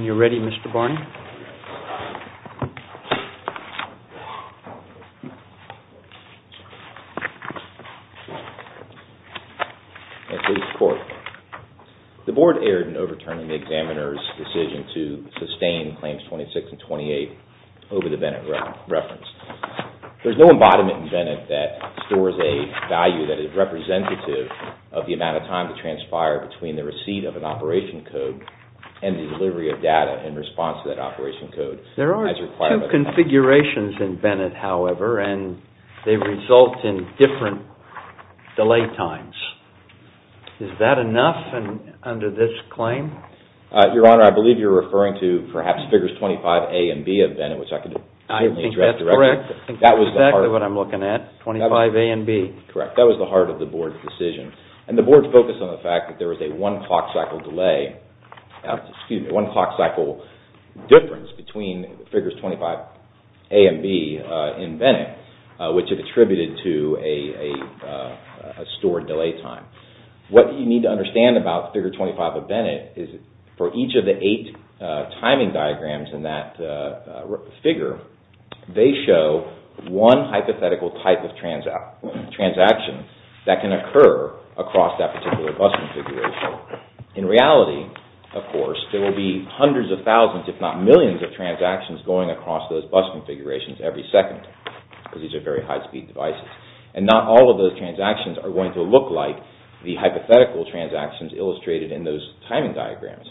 This video was made in Cooperation with the U.S. Embassy in the Philippines. No part of this recording may be reproduced without Master's Permission. Thank you for watching. When you're ready, Mr. Barney. Thank you, Mr. Court. The Board erred in overturning the examiner's decision to sustain Claims 26 and 28 over the Bennett reference. There's no embodiment in Bennett that stores a value that is representative of the amount of time that transpired between the receipt of an operation code and the delivery of data in response to that operation code. There are two configurations in Bennett, however, and they result in different delay times. Is that enough under this claim? Your Honor, I believe you're referring to perhaps Figures 25A and B of Bennett, which I could certainly address directly. I think that's correct. That was the heart. That's exactly what I'm looking at, 25A and B. Correct. That was the heart of the Board's decision, and the Board's focus on the fact that there was a one-clock cycle delay, excuse me, one-clock cycle difference between Figures 25A and B in Bennett, which it attributed to a stored delay time. What you need to understand about Figure 25 of Bennett is for each of the eight timing diagrams in that figure, they show one hypothetical type of transaction that can occur across that particular bus configuration. In reality, of course, there will be hundreds of thousands, if not millions, of transactions going across those bus configurations every second, because these are very high-speed devices. And not all of those transactions are going to look like the hypothetical transactions illustrated in those timing diagrams.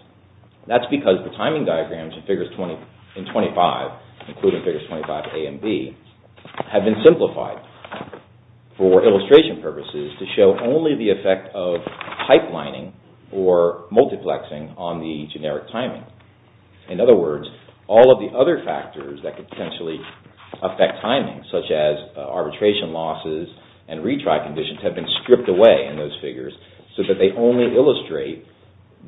That's because the timing diagrams in Figures 25, including Figures 25A and B, have been simplified for illustration purposes to show only the effect of pipelining or multiplexing on the generic timing. In other words, all of the other factors that could potentially affect timing, such as arbitration losses and retry conditions, have been stripped away in those figures so that they only illustrate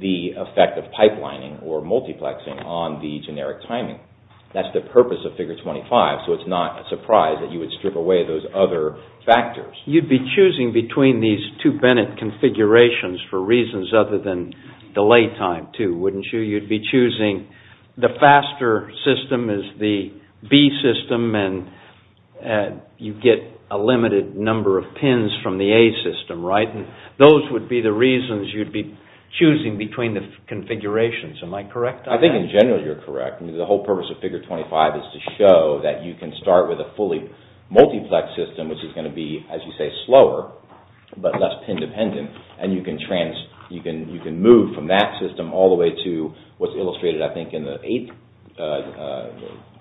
the effect of pipelining or multiplexing on the generic timing. That's the purpose of Figure 25, so it's not a surprise that you would strip away those other factors. You'd be choosing between these two Bennett configurations for reasons other than delay time, too, wouldn't you? The faster system is the B system, and you get a limited number of pins from the A system, right? Those would be the reasons you'd be choosing between the configurations. Am I correct on that? I think, in general, you're correct. The whole purpose of Figure 25 is to show that you can start with a fully multiplexed system, which is going to be, as you say, slower, but less pin-dependent, and you can move from that system all the way to what's illustrated, I think, in the eighth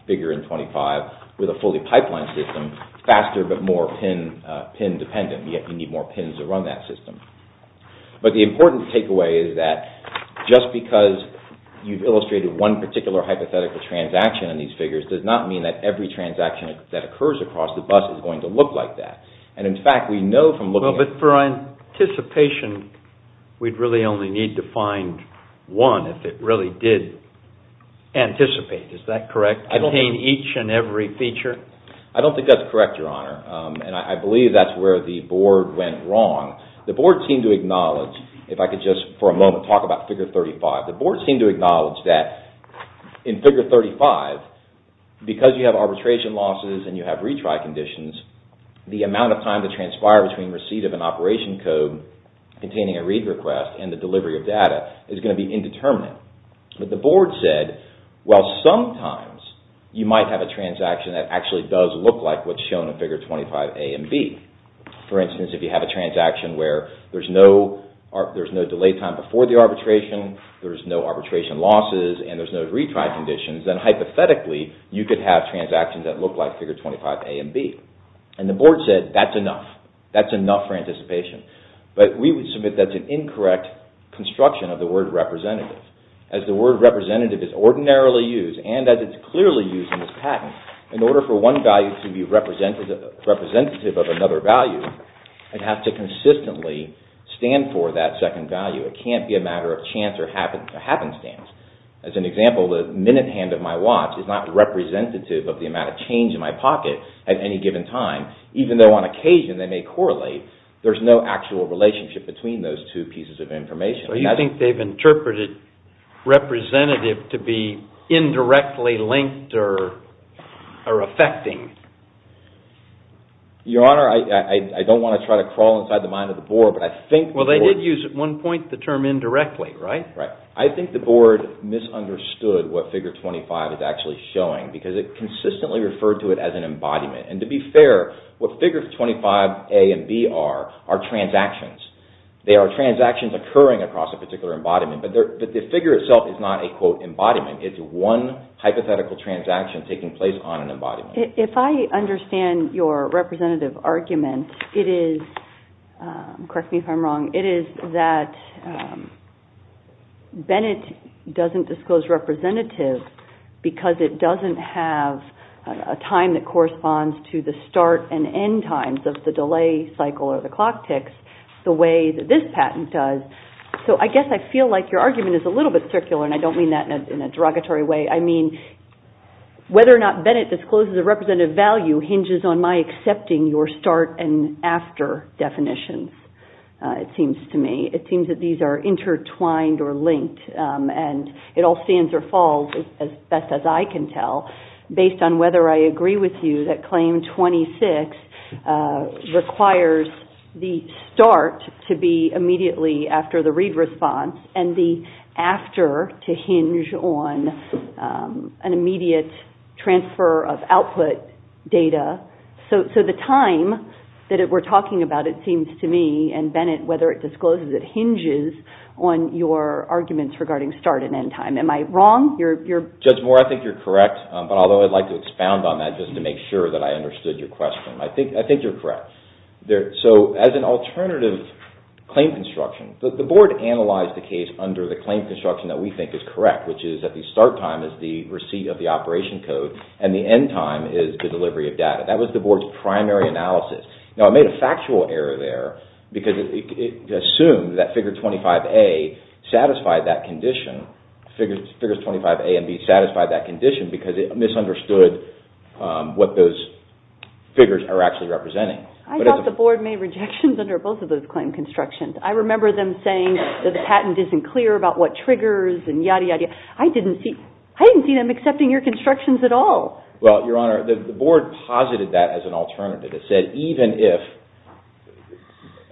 figure in 25, with a fully pipelined system, faster but more pin-dependent. You need more pins to run that system. But the important takeaway is that just because you've illustrated one particular hypothetical transaction in these figures does not mean that every transaction that occurs across the bus is going to look like that. But for anticipation, we'd really only need to find one if it really did anticipate. Is that correct? Contain each and every feature? I don't think that's correct, Your Honor, and I believe that's where the Board went wrong. The Board seemed to acknowledge, if I could just, for a moment, talk about Figure 35. The Board seemed to acknowledge that in Figure 35, because you have arbitration losses and you have retry conditions, the amount of time to transpire between receipt of an operation code containing a read request and the delivery of data is going to be indeterminate. But the Board said, well, sometimes you might have a transaction that actually does look like what's shown in Figure 25a and b. For instance, if you have a transaction where there's no delay time before the arbitration, there's no arbitration losses, and there's no retry conditions, then hypothetically, you could have transactions that look like Figure 25a and b. And the Board said, that's enough. That's enough for anticipation. But we would submit that's an incorrect construction of the word representative. As the word representative is ordinarily used, and as it's clearly used in this patent, in order for one value to be representative of another value, it has to consistently stand for that second value. It can't be a matter of chance or happenstance. As an example, the minute hand of my watch is not representative of the amount of change in my pocket at any given time, even though on occasion they may correlate, there's no actual relationship between those two pieces of information. You think they've interpreted representative to be indirectly linked or affecting? Your Honor, I don't want to try to crawl inside the mind of the Board, but I think the Board… They used at one point the term indirectly, right? Right. I think the Board misunderstood what Figure 25 is actually showing, because it consistently referred to it as an embodiment. And to be fair, what Figure 25a and b are, are transactions. They are transactions occurring across a particular embodiment. But the figure itself is not a, quote, embodiment. It's one hypothetical transaction taking place on an embodiment. If I understand your representative argument, it is, correct me if I'm wrong, it is that Bennett doesn't disclose representative because it doesn't have a time that corresponds to the start and end times of the delay cycle or the clock ticks the way that this patent does. So I guess I feel like your argument is a little bit circular, and I don't mean that in a derogatory way. I mean whether or not Bennett discloses a representative value hinges on my accepting your start and after definitions, it seems to me. It seems that these are intertwined or linked, and it all stands or falls, as best as I can tell, based on whether I agree with you that Claim 26 requires the start to be immediately after the read response and the after to hinge on an immediate transfer of output data. So the time that we're talking about, it seems to me, and Bennett, whether it discloses it hinges on your arguments regarding start and end time. Am I wrong? Judge Moore, I think you're correct, but although I'd like to expound on that just to make sure that I understood your question. I think you're correct. So as an alternative claim construction, the Board analyzed the case under the claim construction that we think is correct, which is that the start time is the receipt of the operation code and the end time is the delivery of data. That was the Board's primary analysis. Now I made a factual error there because it assumed that Figure 25A satisfied that condition, because it misunderstood what those figures are actually representing. I thought the Board made rejections under both of those claim constructions. I remember them saying that the patent isn't clear about what triggers and yada, yada. I didn't see them accepting your constructions at all. Well, Your Honor, the Board posited that as an alternative. It said even if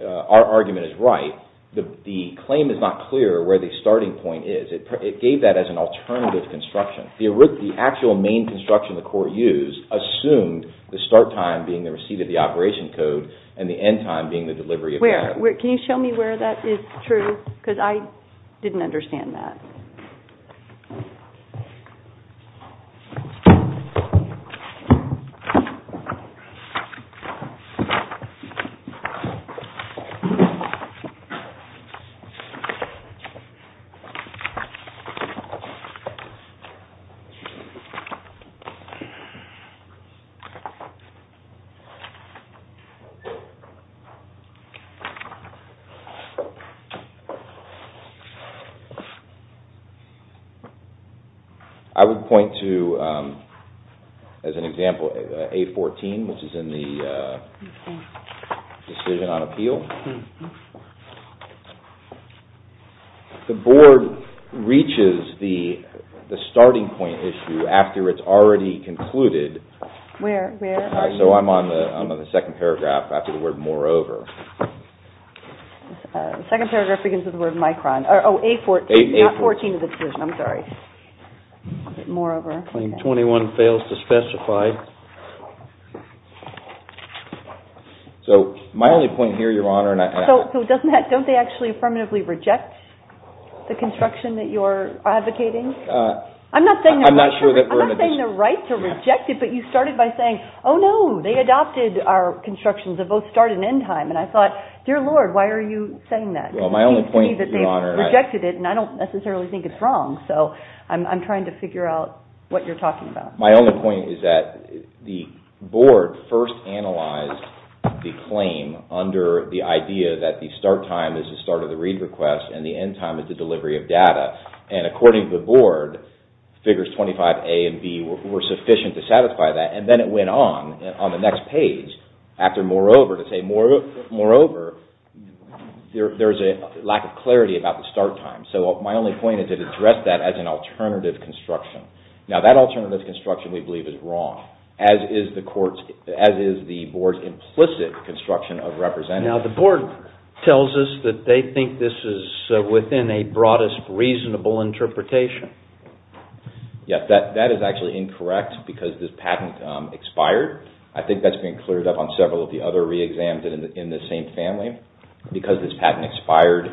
our argument is right, the claim is not clear where the starting point is. It gave that as an alternative construction. The actual main construction the Court used assumed the start time being the receipt of the operation code and the end time being the delivery of data. Can you show me where that is true? Because I didn't understand that. I would point to, as an example, A14, which is in the decision on appeal. The Board reaches the starting point issue after it's already concluded. Where? So I'm on the second paragraph after the word moreover. The second paragraph begins with the word micron. Oh, A14. A14. Not 14 of the decision. I'm sorry. Moreover. Claim 21 fails to specify. So my only point here, Your Honor. So don't they actually affirmatively reject the construction that you're advocating? I'm not saying they're right to reject it, but you started by saying, oh, no, they adopted our constructions. They both start and end time. And I thought, dear Lord, why are you saying that? Well, my only point, Your Honor. Because they've rejected it, and I don't necessarily think it's wrong. So I'm trying to figure out what you're talking about. My only point is that the Board first analyzed the claim under the idea that the start time is the start of the read request and the end time is the delivery of data. And according to the Board, figures 25A and B were sufficient to satisfy that. And then it went on on the next page after moreover to say, moreover, there's a lack of clarity about the start time. So my only point is it addressed that as an alternative construction. Now, that alternative construction, we believe, is wrong, as is the Board's implicit construction of representation. Now, the Board tells us that they think this is within a broadest reasonable interpretation. Yes, that is actually incorrect because this patent expired. I think that's been cleared up on several of the other re-exams in the same family. Because this patent expired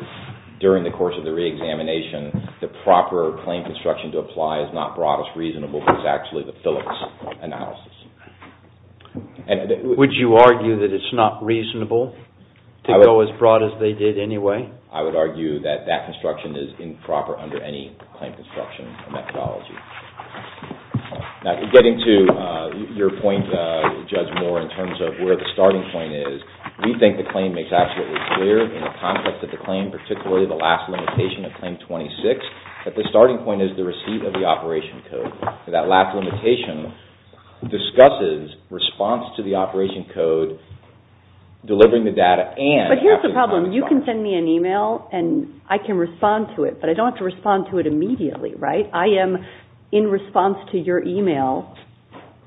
during the course of the re-examination, the proper claim construction to apply is not broadest reasonable, but it's actually the Phillips analysis. Would you argue that it's not reasonable to go as broad as they did anyway? I would argue that that construction is improper under any claim construction methodology. Now, getting to your point, Judge Moore, in terms of where the starting point is, we think the claim makes absolutely clear in the context of the claim, particularly the last limitation of Claim 26, that the starting point is the receipt of the operation code. That last limitation discusses response to the operation code, delivering the data and... But here's the problem. You can send me an email and I can respond to it, but I don't have to respond to it immediately, right? I am in response to your email,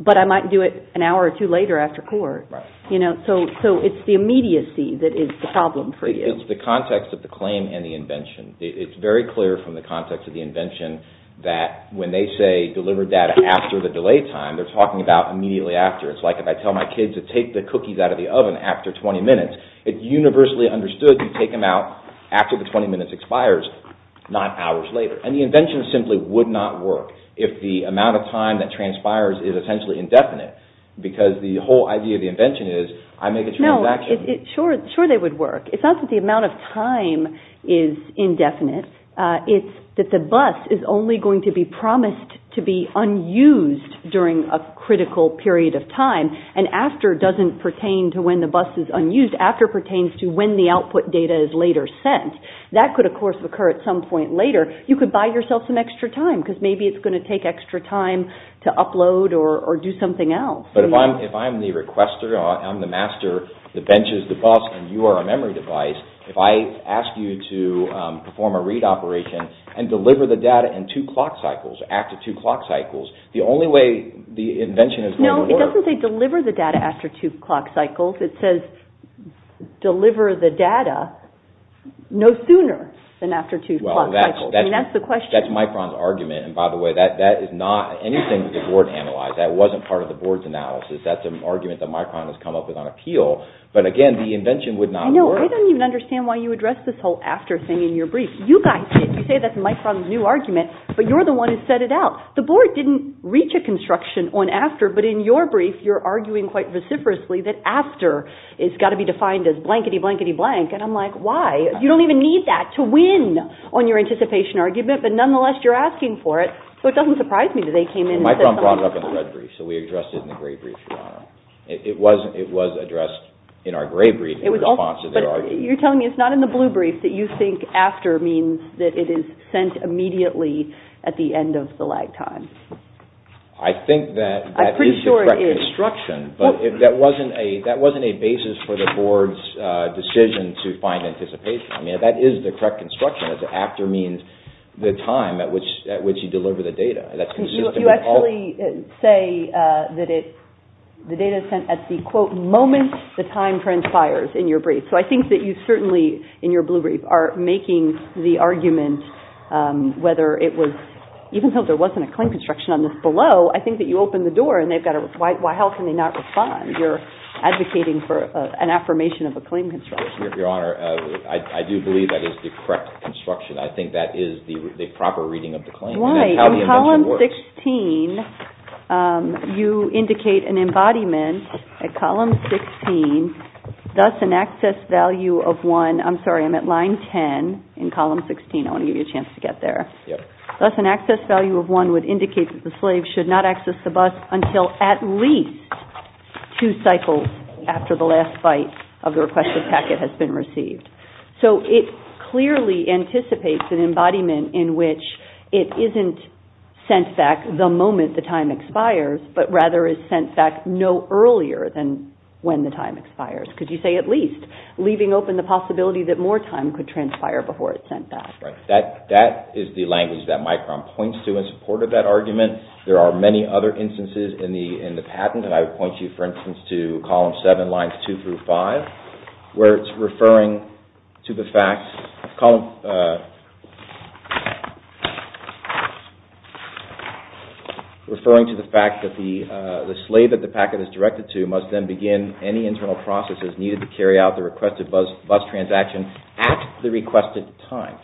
but I might do it an hour or two later after court. Right. So it's the immediacy that is the problem for you. It's the context of the claim and the invention. It's very clear from the context of the invention that when they say, deliver data after the delay time, they're talking about immediately after. It's like if I tell my kids to take the cookies out of the oven after 20 minutes, it's universally understood to take them out after the 20 minutes expires, not hours later. And the invention simply would not work if the amount of time that transpires is essentially indefinite, because the whole idea of the invention is I make a transaction. No, sure they would work. It's not that the amount of time is indefinite. It's that the bus is only going to be promised to be unused during a critical period of time and after doesn't pertain to when the bus is unused. After pertains to when the output data is later sent. That could, of course, occur at some point later. You could buy yourself some extra time because maybe it's going to take extra time to upload or do something else. But if I'm the requester, I'm the master, the bench is the bus, and you are a memory device, if I ask you to perform a read operation and deliver the data in two clock cycles, after two clock cycles, the only way the invention is going to work... No, it doesn't say deliver the data after two clock cycles. It says deliver the data no sooner than after two clock cycles. Well, that's Micron's argument, and by the way, that is not anything that the board analyzed. That wasn't part of the board's analysis. That's an argument that Micron has come up with on appeal. But again, the invention would not work. I don't even understand why you address this whole after thing in your brief. You guys did. You say that's Micron's new argument, but you're the one who set it out. The board didn't reach a construction on after, but in your brief, you're arguing quite vociferously that after has got to be defined as blankety, blankety, blank. And I'm like, why? You don't even need that to win on your anticipation argument, but nonetheless, you're asking for it. So it doesn't surprise me that they came in and said... Micron brought it up in the red brief, so we addressed it in the gray brief, Your Honor. It was addressed in our gray brief in response to their argument. But you're telling me it's not in the blue brief that you think after means that it is sent immediately at the end of the lag time. I think that that is the correct construction, but that wasn't a basis for the board's decision to find anticipation. I mean, that is the correct construction. After means the time at which you deliver the data. You actually say that the data is sent at the, quote, moment the time transpires in your brief. So I think that you certainly, in your blue brief, are making the argument whether it was... Even though there wasn't a claim construction on this below, I think that you opened the door and they've got to... Why, how can they not respond? You're advocating for an affirmation of a claim construction. Your Honor, I do believe that is the correct construction. I think that is the proper reading of the claim. Why? In column 16, you indicate an embodiment at column 16, thus an access value of one. I'm sorry, I'm at line 10 in column 16. I want to give you a chance to get there. Thus an access value of one would indicate that the slave should not access the bus until at least two cycles after the last bite of the requested packet has been received. So it clearly anticipates an embodiment in which it isn't sent back the moment the time expires, but rather is sent back no earlier than when the time expires. Because you say at least, leaving open the possibility that more time could transpire before it's sent back. That is the language that Micron points to in support of that argument. There are many other instances in the patent, and I would point you, for instance, to column 7, lines 2 through 5, where it's referring to the fact that the slave that the packet is directed to must then begin any internal processes needed to carry out the requested bus transaction at the requested time.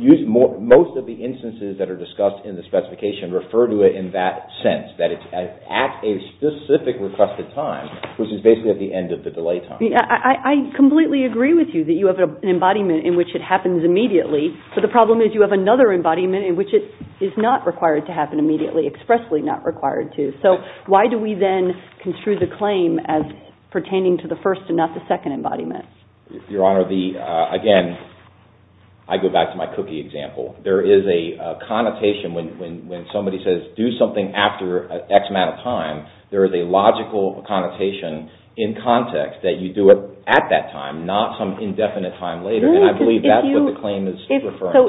Most of the instances that are discussed in the specification refer to it in that sense, that it's at a specific requested time, which is basically at the end of the delay time. I completely agree with you that you have an embodiment in which it happens immediately, but the problem is you have another embodiment in which it is not required to happen immediately, expressly not required to. So why do we then construe the claim as pertaining to the first and not the second embodiment? Your Honor, again, I go back to my cookie example. There is a connotation when somebody says do something after X amount of time, there is a logical connotation in context that you do it at that time, not some indefinite time later, and I believe that's what the claim is referring to. So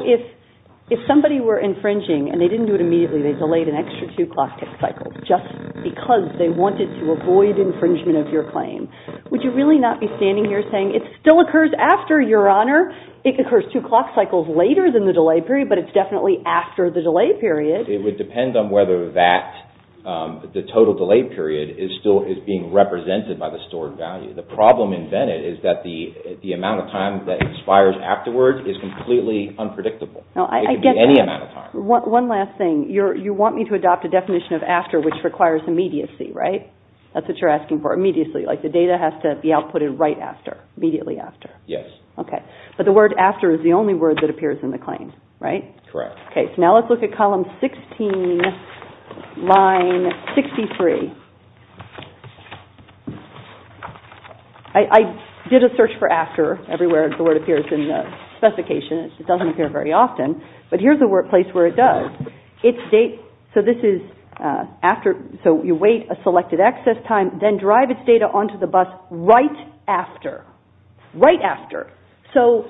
if somebody were infringing and they didn't do it immediately, they delayed an extra two clock cycle just because they wanted to avoid infringement of your claim, would you really not be standing here saying it still occurs after, Your Honor, it occurs two clock cycles later than the delay period, but it's definitely after the delay period? It would depend on whether the total delay period is still being represented by the stored value. The problem in Bennett is that the amount of time that expires afterwards is completely unpredictable. It could be any amount of time. One last thing. You want me to adopt a definition of after which requires immediacy, right? That's what you're asking for, immediacy, like the data has to be outputted right after, immediately after. Yes. Okay, but the word after is the only word that appears in the claim, right? Correct. Okay, so now let's look at column 16, line 63. I did a search for after everywhere the word appears in the specification. It doesn't appear very often, but here's a place where it does. So this is after, so you wait a selected access time, then drive its data onto the bus right after. Right after. So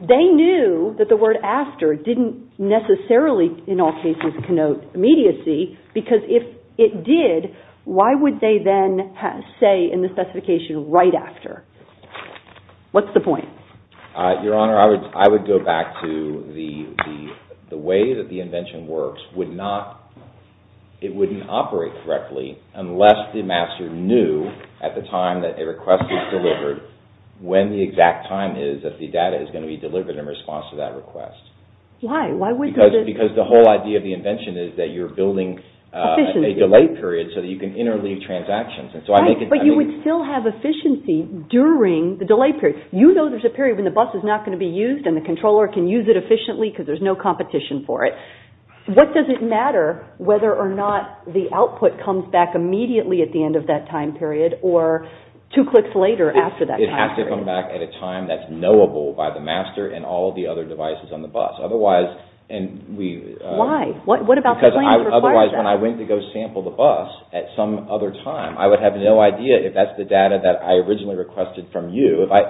they knew that the word after didn't necessarily, in all cases, connote immediacy, because if it did, why would they then say in the specification right after? What's the point? Your Honor, I would go back to the way that the invention works. It wouldn't operate correctly unless the master knew at the time that a request was delivered when the exact time is that the data is going to be delivered in response to that request. Why? Because the whole idea of the invention is that you're building a delay period so that you can interleave transactions. But you would still have efficiency during the delay period. You know there's a period when the bus is not going to be used and the controller can use it efficiently because there's no competition for it. What does it matter whether or not the output comes back immediately at the end of that time period or two clicks later after that time period? It has to come back at a time that's knowable by the master and all the other devices on the bus. Otherwise, and we... Why? What about the plans required that? Because otherwise when I went to go sample the bus at some other time, I would have no idea if that's the data that I originally requested from you. If I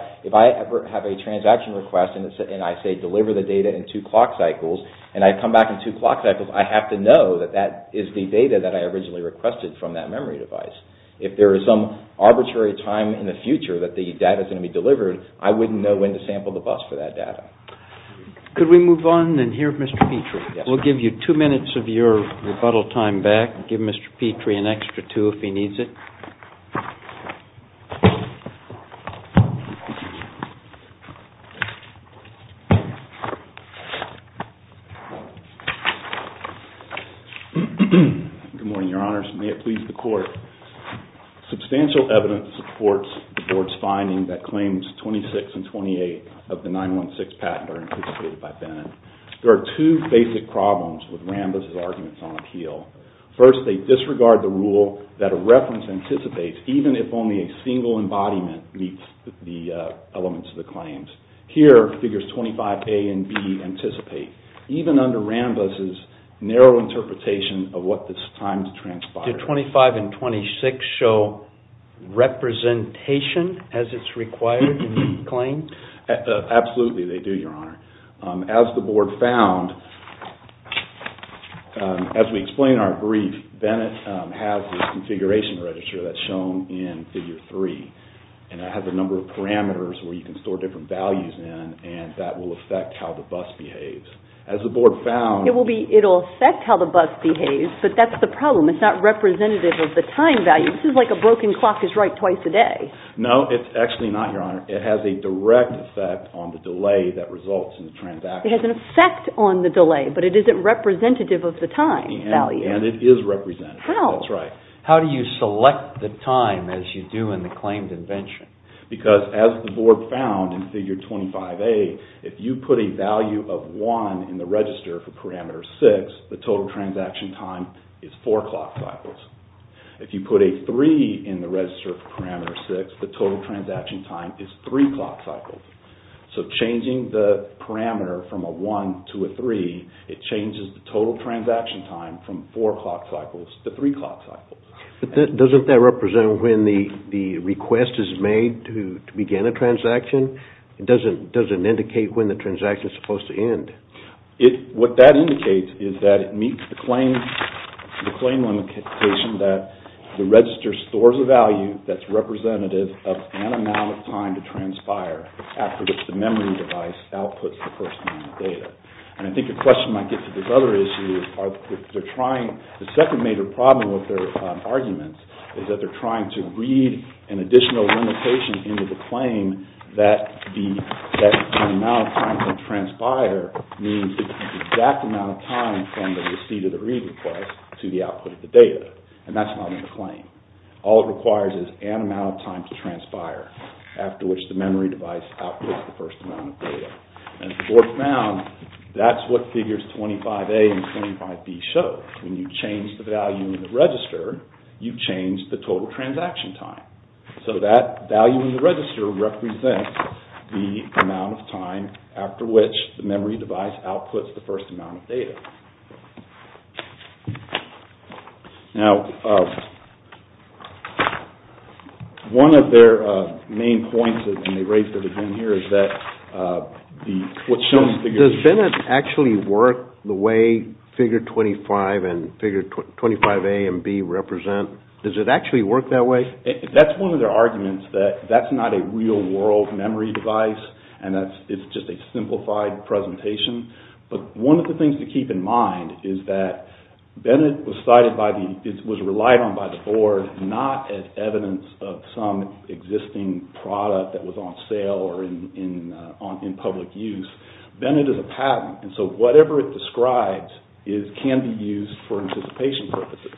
ever have a transaction request and I say deliver the data in two clock cycles and I come back in two clock cycles, I have to know that that is the data that I originally requested from that memory device. If there is some arbitrary time in the future that the data is going to be delivered, I wouldn't know when to sample the bus for that data. Could we move on and hear Mr. Petrie? Yes. We'll give you two minutes of your rebuttal time back. Give Mr. Petrie an extra two if he needs it. Good morning, Your Honors. May it please the Court. Substantial evidence supports the Board's finding that claims 26 and 28 of the 916 patent are anticipated by Bennett. There are two basic problems with Rambas' arguments on appeal. First, they disregard the rule that a reference anticipates even if only a single embodiment meets the elements of the claims. Here, figures 25A and B anticipate, even under Rambas' narrow interpretation of what this time to transpire. Do 25 and 26 show representation as it's required in the claim? Absolutely, they do, Your Honor. As the Board found, as we explained in our brief, Bennett has this configuration register that's shown in Figure 3. It has a number of parameters where you can store different values in, and that will affect how the bus behaves. As the Board found... It will affect how the bus behaves, but that's the problem. It's not representative of the time value. This is like a broken clock is right twice a day. No, it's actually not, Your Honor. It has a direct effect on the delay that results in the transaction. It has an effect on the delay, but it isn't representative of the time value. And it is representative. How? That's right. How do you select the time as you do in the claims invention? Because as the Board found in Figure 25A, if you put a value of 1 in the register for parameter 6, the total transaction time is 4 clock cycles. If you put a 3 in the register for parameter 6, the total transaction time is 3 clock cycles. So changing the parameter from a 1 to a 3, it changes the total transaction time from 4 clock cycles to 3 clock cycles. But doesn't that represent when the request is made to begin a transaction? It doesn't indicate when the transaction is supposed to end. What that indicates is that it meets the claim limitation that the register stores a value that's representative of an amount of time to transpire after the memory device outputs the first amount of data. And I think the question might get to this other issue. The second major problem with their argument is that they're trying to read an additional limitation into the claim that the amount of time to transpire means the exact amount of time from the receipt of the read request to the output of the data. And that's not in the claim. All it requires is an amount of time to transpire after which the memory device outputs the first amount of data. And as the board found, that's what figures 25A and 25B show. When you change the value in the register, you change the total transaction time. So that value in the register represents the amount of time after which the memory device outputs the first amount of data. Now, one of their main points in the rates that have been here is that what's shown in the figures... Does BINIT actually work the way figure 25A and figure 25B represent? Does it actually work that way? That's one of their arguments, that that's not a real-world memory device and it's just a simplified presentation. But one of the things to keep in mind is that BINIT was relied on by the board not as evidence of some existing product that was on sale or in public use. BINIT is a patent, and so whatever it describes can be used for anticipation purposes.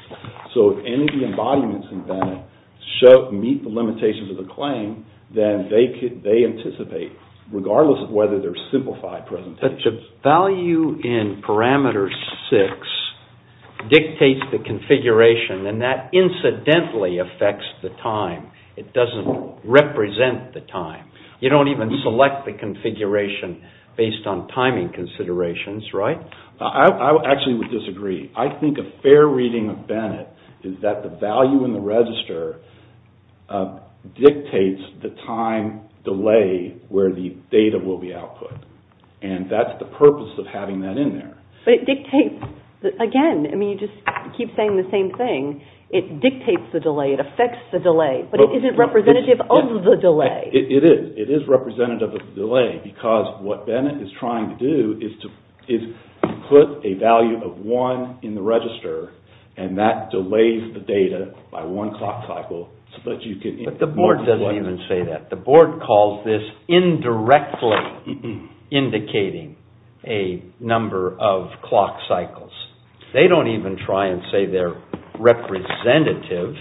So if any of the embodiments in BINIT meet the limitations of the claim, then they anticipate, regardless of whether they're simplified presentations. But the value in parameter 6 dictates the configuration, and that incidentally affects the time. It doesn't represent the time. You don't even select the configuration based on timing considerations, right? I actually would disagree. I think a fair reading of BINIT is that the value in the register dictates the time delay where the data will be output. And that's the purpose of having that in there. But it dictates, again, I mean you just keep saying the same thing. It dictates the delay, it affects the delay, but it isn't representative of the delay. It is representative of the delay because what BINIT is trying to do is put a value of 1 in the register, and that delays the data by one clock cycle. But the board doesn't even say that. The board calls this indirectly indicating a number of clock cycles. They don't even try and say they're representative.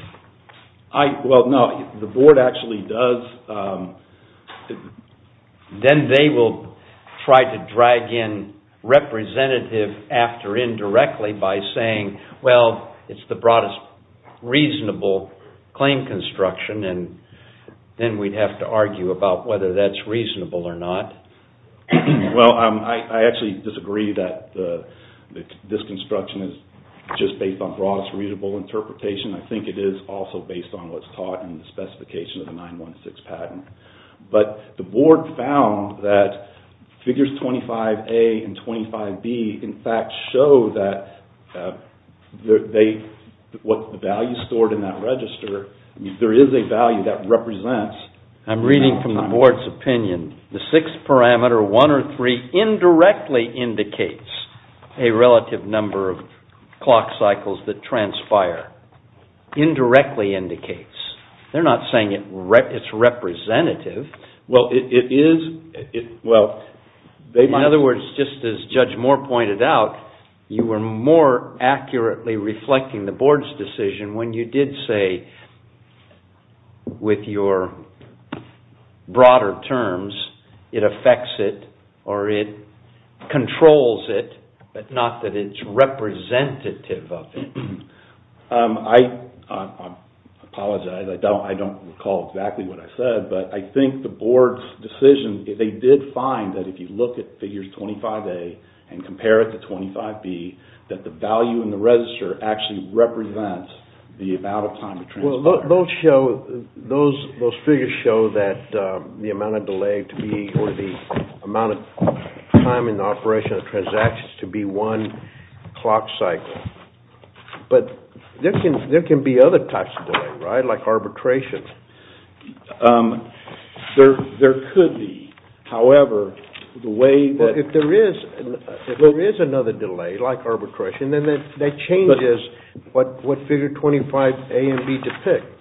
Well, no, the board actually does. Then they will try to drag in representative after indirectly by saying, well, it's the broadest reasonable claim construction, and then we'd have to argue about whether that's reasonable or not. Well, I actually disagree that this construction is just based on broadest readable interpretation. I think it is also based on what's taught in the specification of the 9-1-6 patent. But the board found that figures 25A and 25B, in fact, show that what the value stored in that register, there is a value that represents. I'm reading from the board's opinion. The sixth parameter, one or three, indirectly indicates a relative number of clock cycles that transpire. Indirectly indicates. They're not saying it's representative. Well, it is. In other words, just as Judge Moore pointed out, you were more accurately reflecting the board's decision when you did say, with your broader terms, it affects it or it controls it, but not that it's representative of it. I apologize. I don't recall exactly what I said, but I think the board's decision, they did find that if you look at figures 25A and compare it to 25B, that the value in the register actually represents the amount of time it transpires. But there can be other types of delay, right? Like arbitration. There could be. However, the way that... If there is another delay, like arbitration, then that changes what figure 25A and 25B depict.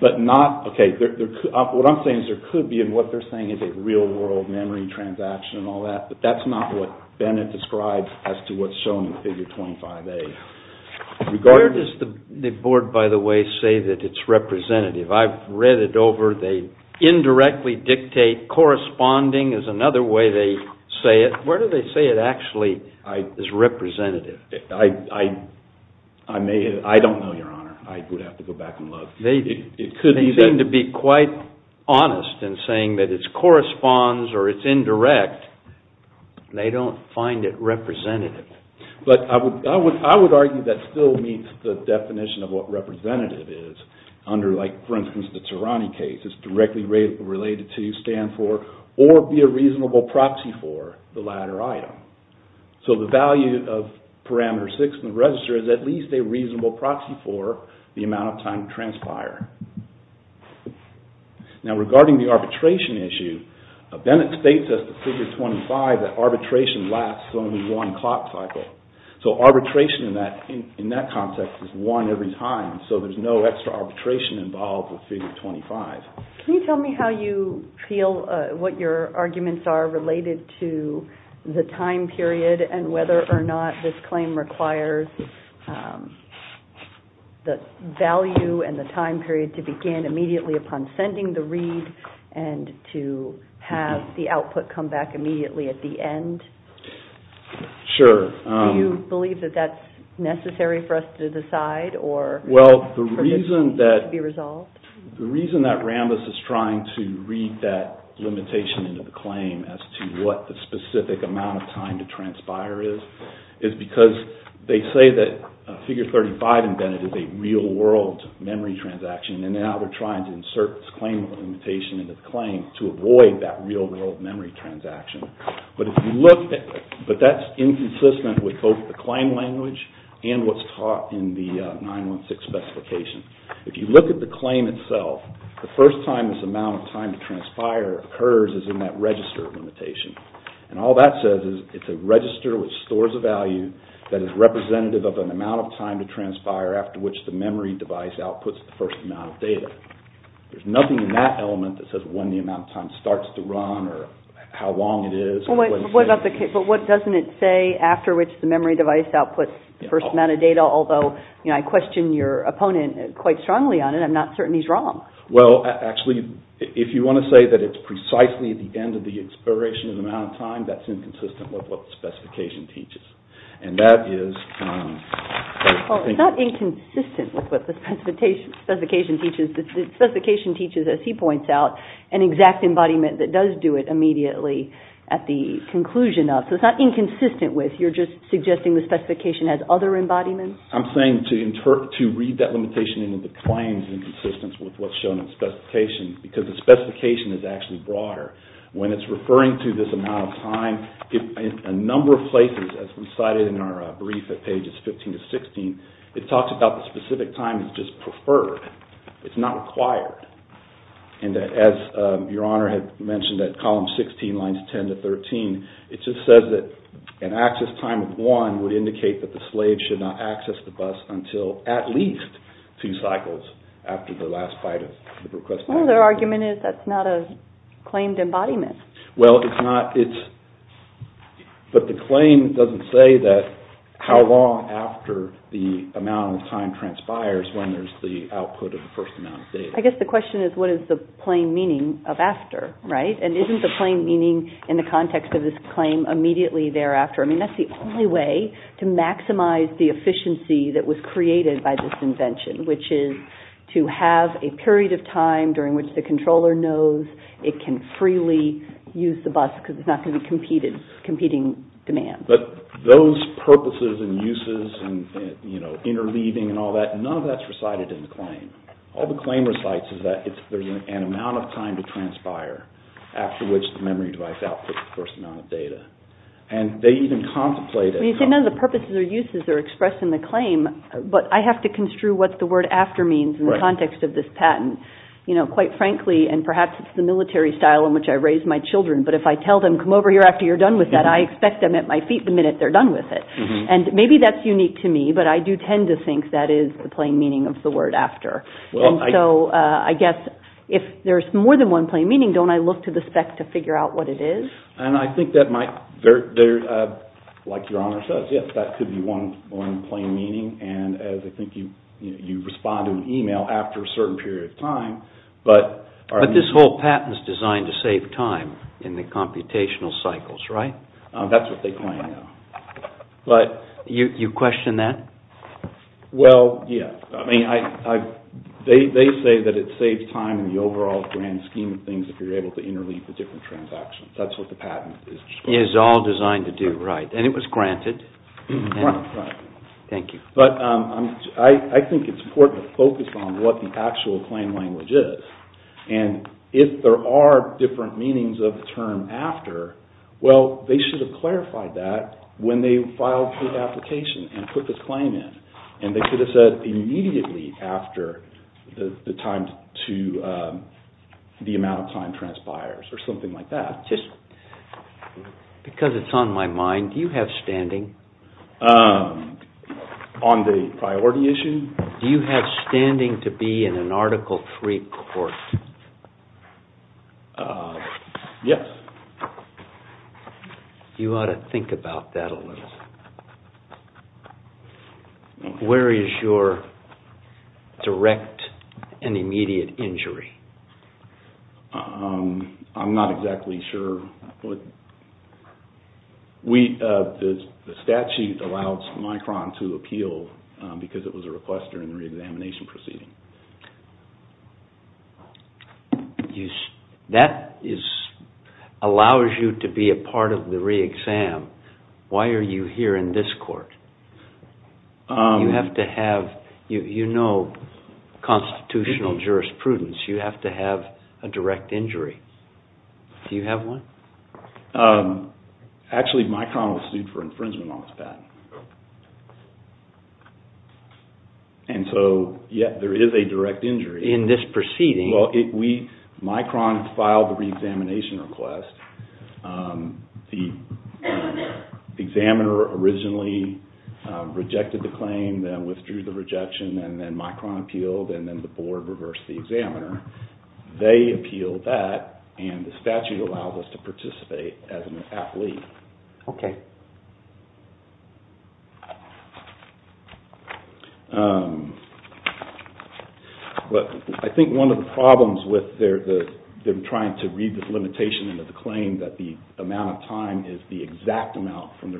But not... Okay, what I'm saying is there could be, and what they're saying is a real-world memory transaction and all that, but that's not what Bennett described as to what's shown in figure 25A. Where does the board, by the way, say that it's representative? I've read it over. They indirectly dictate corresponding is another way they say it. Where do they say it actually is representative? I don't know, Your Honor. I would have to go back and look. They seem to be quite honest in saying that it corresponds or it's indirect. They don't find it representative. But I would argue that still meets the definition of what representative is, under like, for instance, the Tirani case. It's directly related to, stand for, or be a reasonable proxy for the latter item. So the value of parameter 6 in the register is at least a reasonable proxy for the amount of time to transpire. Now regarding the arbitration issue, Bennett states as to figure 25 that arbitration lasts only one clock cycle. So arbitration in that context is one every time, so there's no extra arbitration involved with figure 25. Can you tell me how you feel, what your arguments are related to the time period and whether or not this claim requires the value and the time period to begin immediately upon sending the read and to have the output come back immediately at the end? Sure. Do you believe that that's necessary for us to decide or for this to be resolved? The reason that Rambis is trying to read that limitation into the claim as to what the specific amount of time to transpire is, is because they say that figure 35 in Bennett is a real world memory transaction and now they're trying to insert this claim limitation into the claim to avoid that real world memory transaction. But that's inconsistent with both the claim language and what's taught in the 916 specification. If you look at the claim itself, the first time this amount of time to transpire occurs is in that register limitation. And all that says is it's a register which stores a value that is representative of an amount of time to transpire after which the memory device outputs the first amount of data. There's nothing in that element that says when the amount of time starts to run or how long it is. But what doesn't it say after which the memory device outputs the first amount of data, although I question your opponent quite strongly on it, I'm not certain he's wrong. Well, actually, if you want to say that it's precisely at the end of the expiration of the amount of time, that's inconsistent with what the specification teaches. And that is... Well, it's not inconsistent with what the specification teaches. The specification teaches, as he points out, an exact embodiment that does do it immediately at the conclusion of. So it's not inconsistent with, you're just suggesting the specification has other embodiments? I'm saying to read that limitation into the claims in consistence with what's shown in the specification, because the specification is actually broader. When it's referring to this amount of time, in a number of places, as we cited in our brief at pages 15 to 16, it talks about the specific time is just preferred. It's not required. And as Your Honor had mentioned at column 16, lines 10 to 13, it just says that an access time of one would indicate that the slave should not access the bus until at least two cycles after the last bite of the request. Well, their argument is that's not a claimed embodiment. Well, it's not. But the claim doesn't say how long after the amount of time transpires when there's the output of the first amount of data. I guess the question is what is the plain meaning of after, right? And isn't the plain meaning in the context of this claim immediately thereafter? I mean, that's the only way to maximize the efficiency that was created by this invention, which is to have a period of time during which the controller knows it can freely use the bus because it's not going to be competing demand. But those purposes and uses and interleaving and all that, none of that's recited in the claim. All the claim recites is that there's an amount of time to transpire after which the memory device outputs the first amount of data. And they even contemplate it. You say none of the purposes or uses are expressed in the claim, but I have to construe what the word after means in the context of this patent. Quite frankly, and perhaps it's the military style in which I raise my children, but if I tell them, come over here after you're done with that, I expect them at my feet the minute they're done with it. And maybe that's unique to me, but I do tend to think that is the plain meaning of the word after. And so I guess if there's more than one plain meaning, don't I look to the spec to figure out what it is? And I think that might, like Your Honor says, yes, that could be one plain meaning. And I think you respond to an email after a certain period of time. But this whole patent is designed to save time in the computational cycles, right? That's what they claim now. You question that? Well, yes. They say that it saves time in the overall grand scheme of things if you're able to interleave the different transactions. That's what the patent is. It is all designed to do, right. And it was granted. Thank you. But I think it's important to focus on what the actual claim language is. And if there are different meanings of the term after, well, they should have clarified that when they filed the application and put the claim in. And they could have said immediately after the amount of time transpires or something like that. Because it's on my mind, do you have standing? On the priority issue? Do you have standing to be in an Article III court? Yes. You ought to think about that a little. Where is your direct and immediate injury? I'm not exactly sure. The statute allows Micron to appeal because it was a request during the re-examination proceeding. That allows you to be a part of the re-exam. Why are you here in this court? You have to have, you know constitutional jurisprudence. You have to have a direct injury. Do you have one? Actually, Micron was sued for infringement on its patent. And so, yes, there is a direct injury. In this proceeding? Well, Micron filed the re-examination request. The examiner originally rejected the claim, then withdrew the rejection, and then Micron appealed, and then the board reversed the examiner. They appealed that, and the statute allows us to participate as an athlete. Okay. I think one of the problems with them trying to read this limitation into the claim that the amount of time is the exact amount from the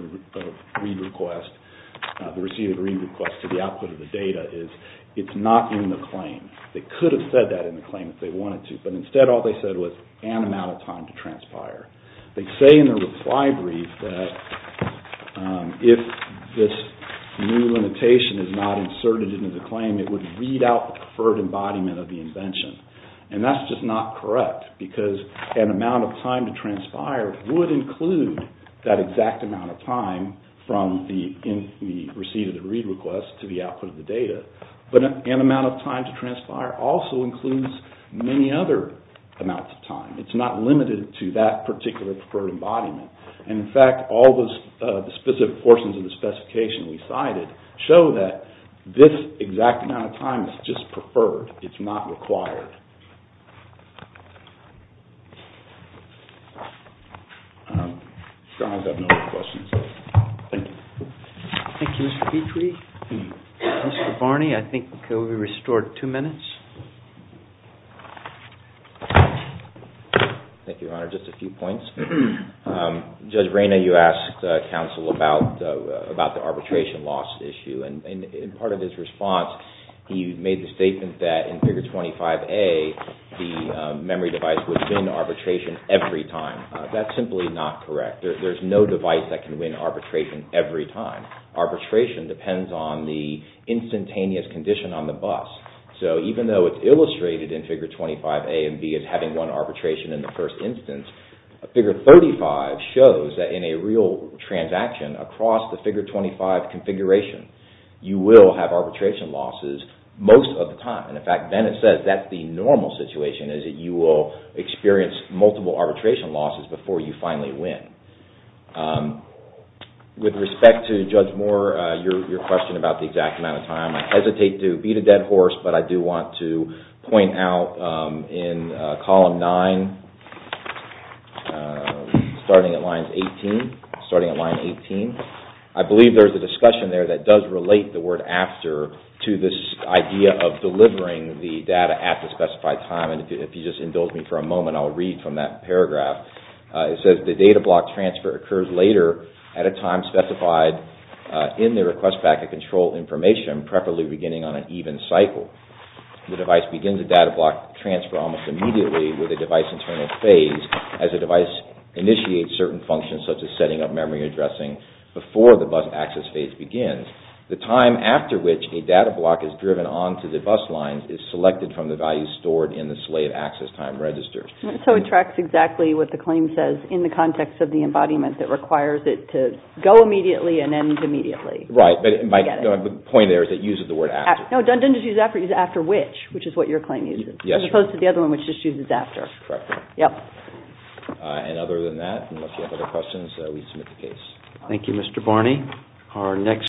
read request, the received read request to the output of the data, is it's not in the claim. They could have said that in the claim if they wanted to, but instead all they said was an amount of time to transpire. They say in the reply brief that if this new limitation is not inserted into the claim, it would read out the preferred embodiment of the invention. And that's just not correct, because an amount of time to transpire would include that exact amount of time from the receipt of the read request to the output of the data. But an amount of time to transpire also includes many other amounts of time. It's not limited to that particular preferred embodiment. And, in fact, all the specific portions of the specification we cited show that this exact amount of time is just preferred. It's not required. Sorry, I have no more questions. Thank you. Thank you, Mr. Petrie. Mr. Barney, I think we'll be restored two minutes. Thank you, Your Honor. Just a few points. Judge Reyna, you asked counsel about the arbitration loss issue. And part of his response, he made the statement that in Figure 25A, the memory device would win arbitration every time. That's simply not correct. There's no device that can win arbitration every time. Arbitration depends on the instantaneous condition on the bus. So even though it's illustrated in Figure 25A and B as having won arbitration in the first instance, Figure 35 shows that in a real transaction across the Figure 25 configuration, you will have arbitration losses most of the time. And, in fact, Bennett says that's the normal situation, is that you will experience multiple arbitration losses before you finally win. With respect to Judge Moore, your question about the exact amount of time, I hesitate to beat a dead horse, but I do want to point out in Column 9, starting at Line 18, I believe there's a discussion there that does relate the word after to this idea of delivering the data at the specified time and if you just indulge me for a moment, I'll read from that paragraph. It says the data block transfer occurs later at a time specified in the request back of control information, preferably beginning on an even cycle. The device begins a data block transfer almost immediately with a device internal phase as a device initiates certain functions such as setting up memory addressing before the bus access phase begins. The time after which a data block is driven onto the bus line is selected from the values stored in the slave access time register. So it tracks exactly what the claim says in the context of the embodiment that requires it to go immediately and end immediately. Right, but the point there is it uses the word after. No, it doesn't just use after, it uses after which, which is what your claim uses, as opposed to the other one which just uses after. Correct. Yep. And other than that, unless you have other questions, we submit the case. Thank you, Mr. Barney.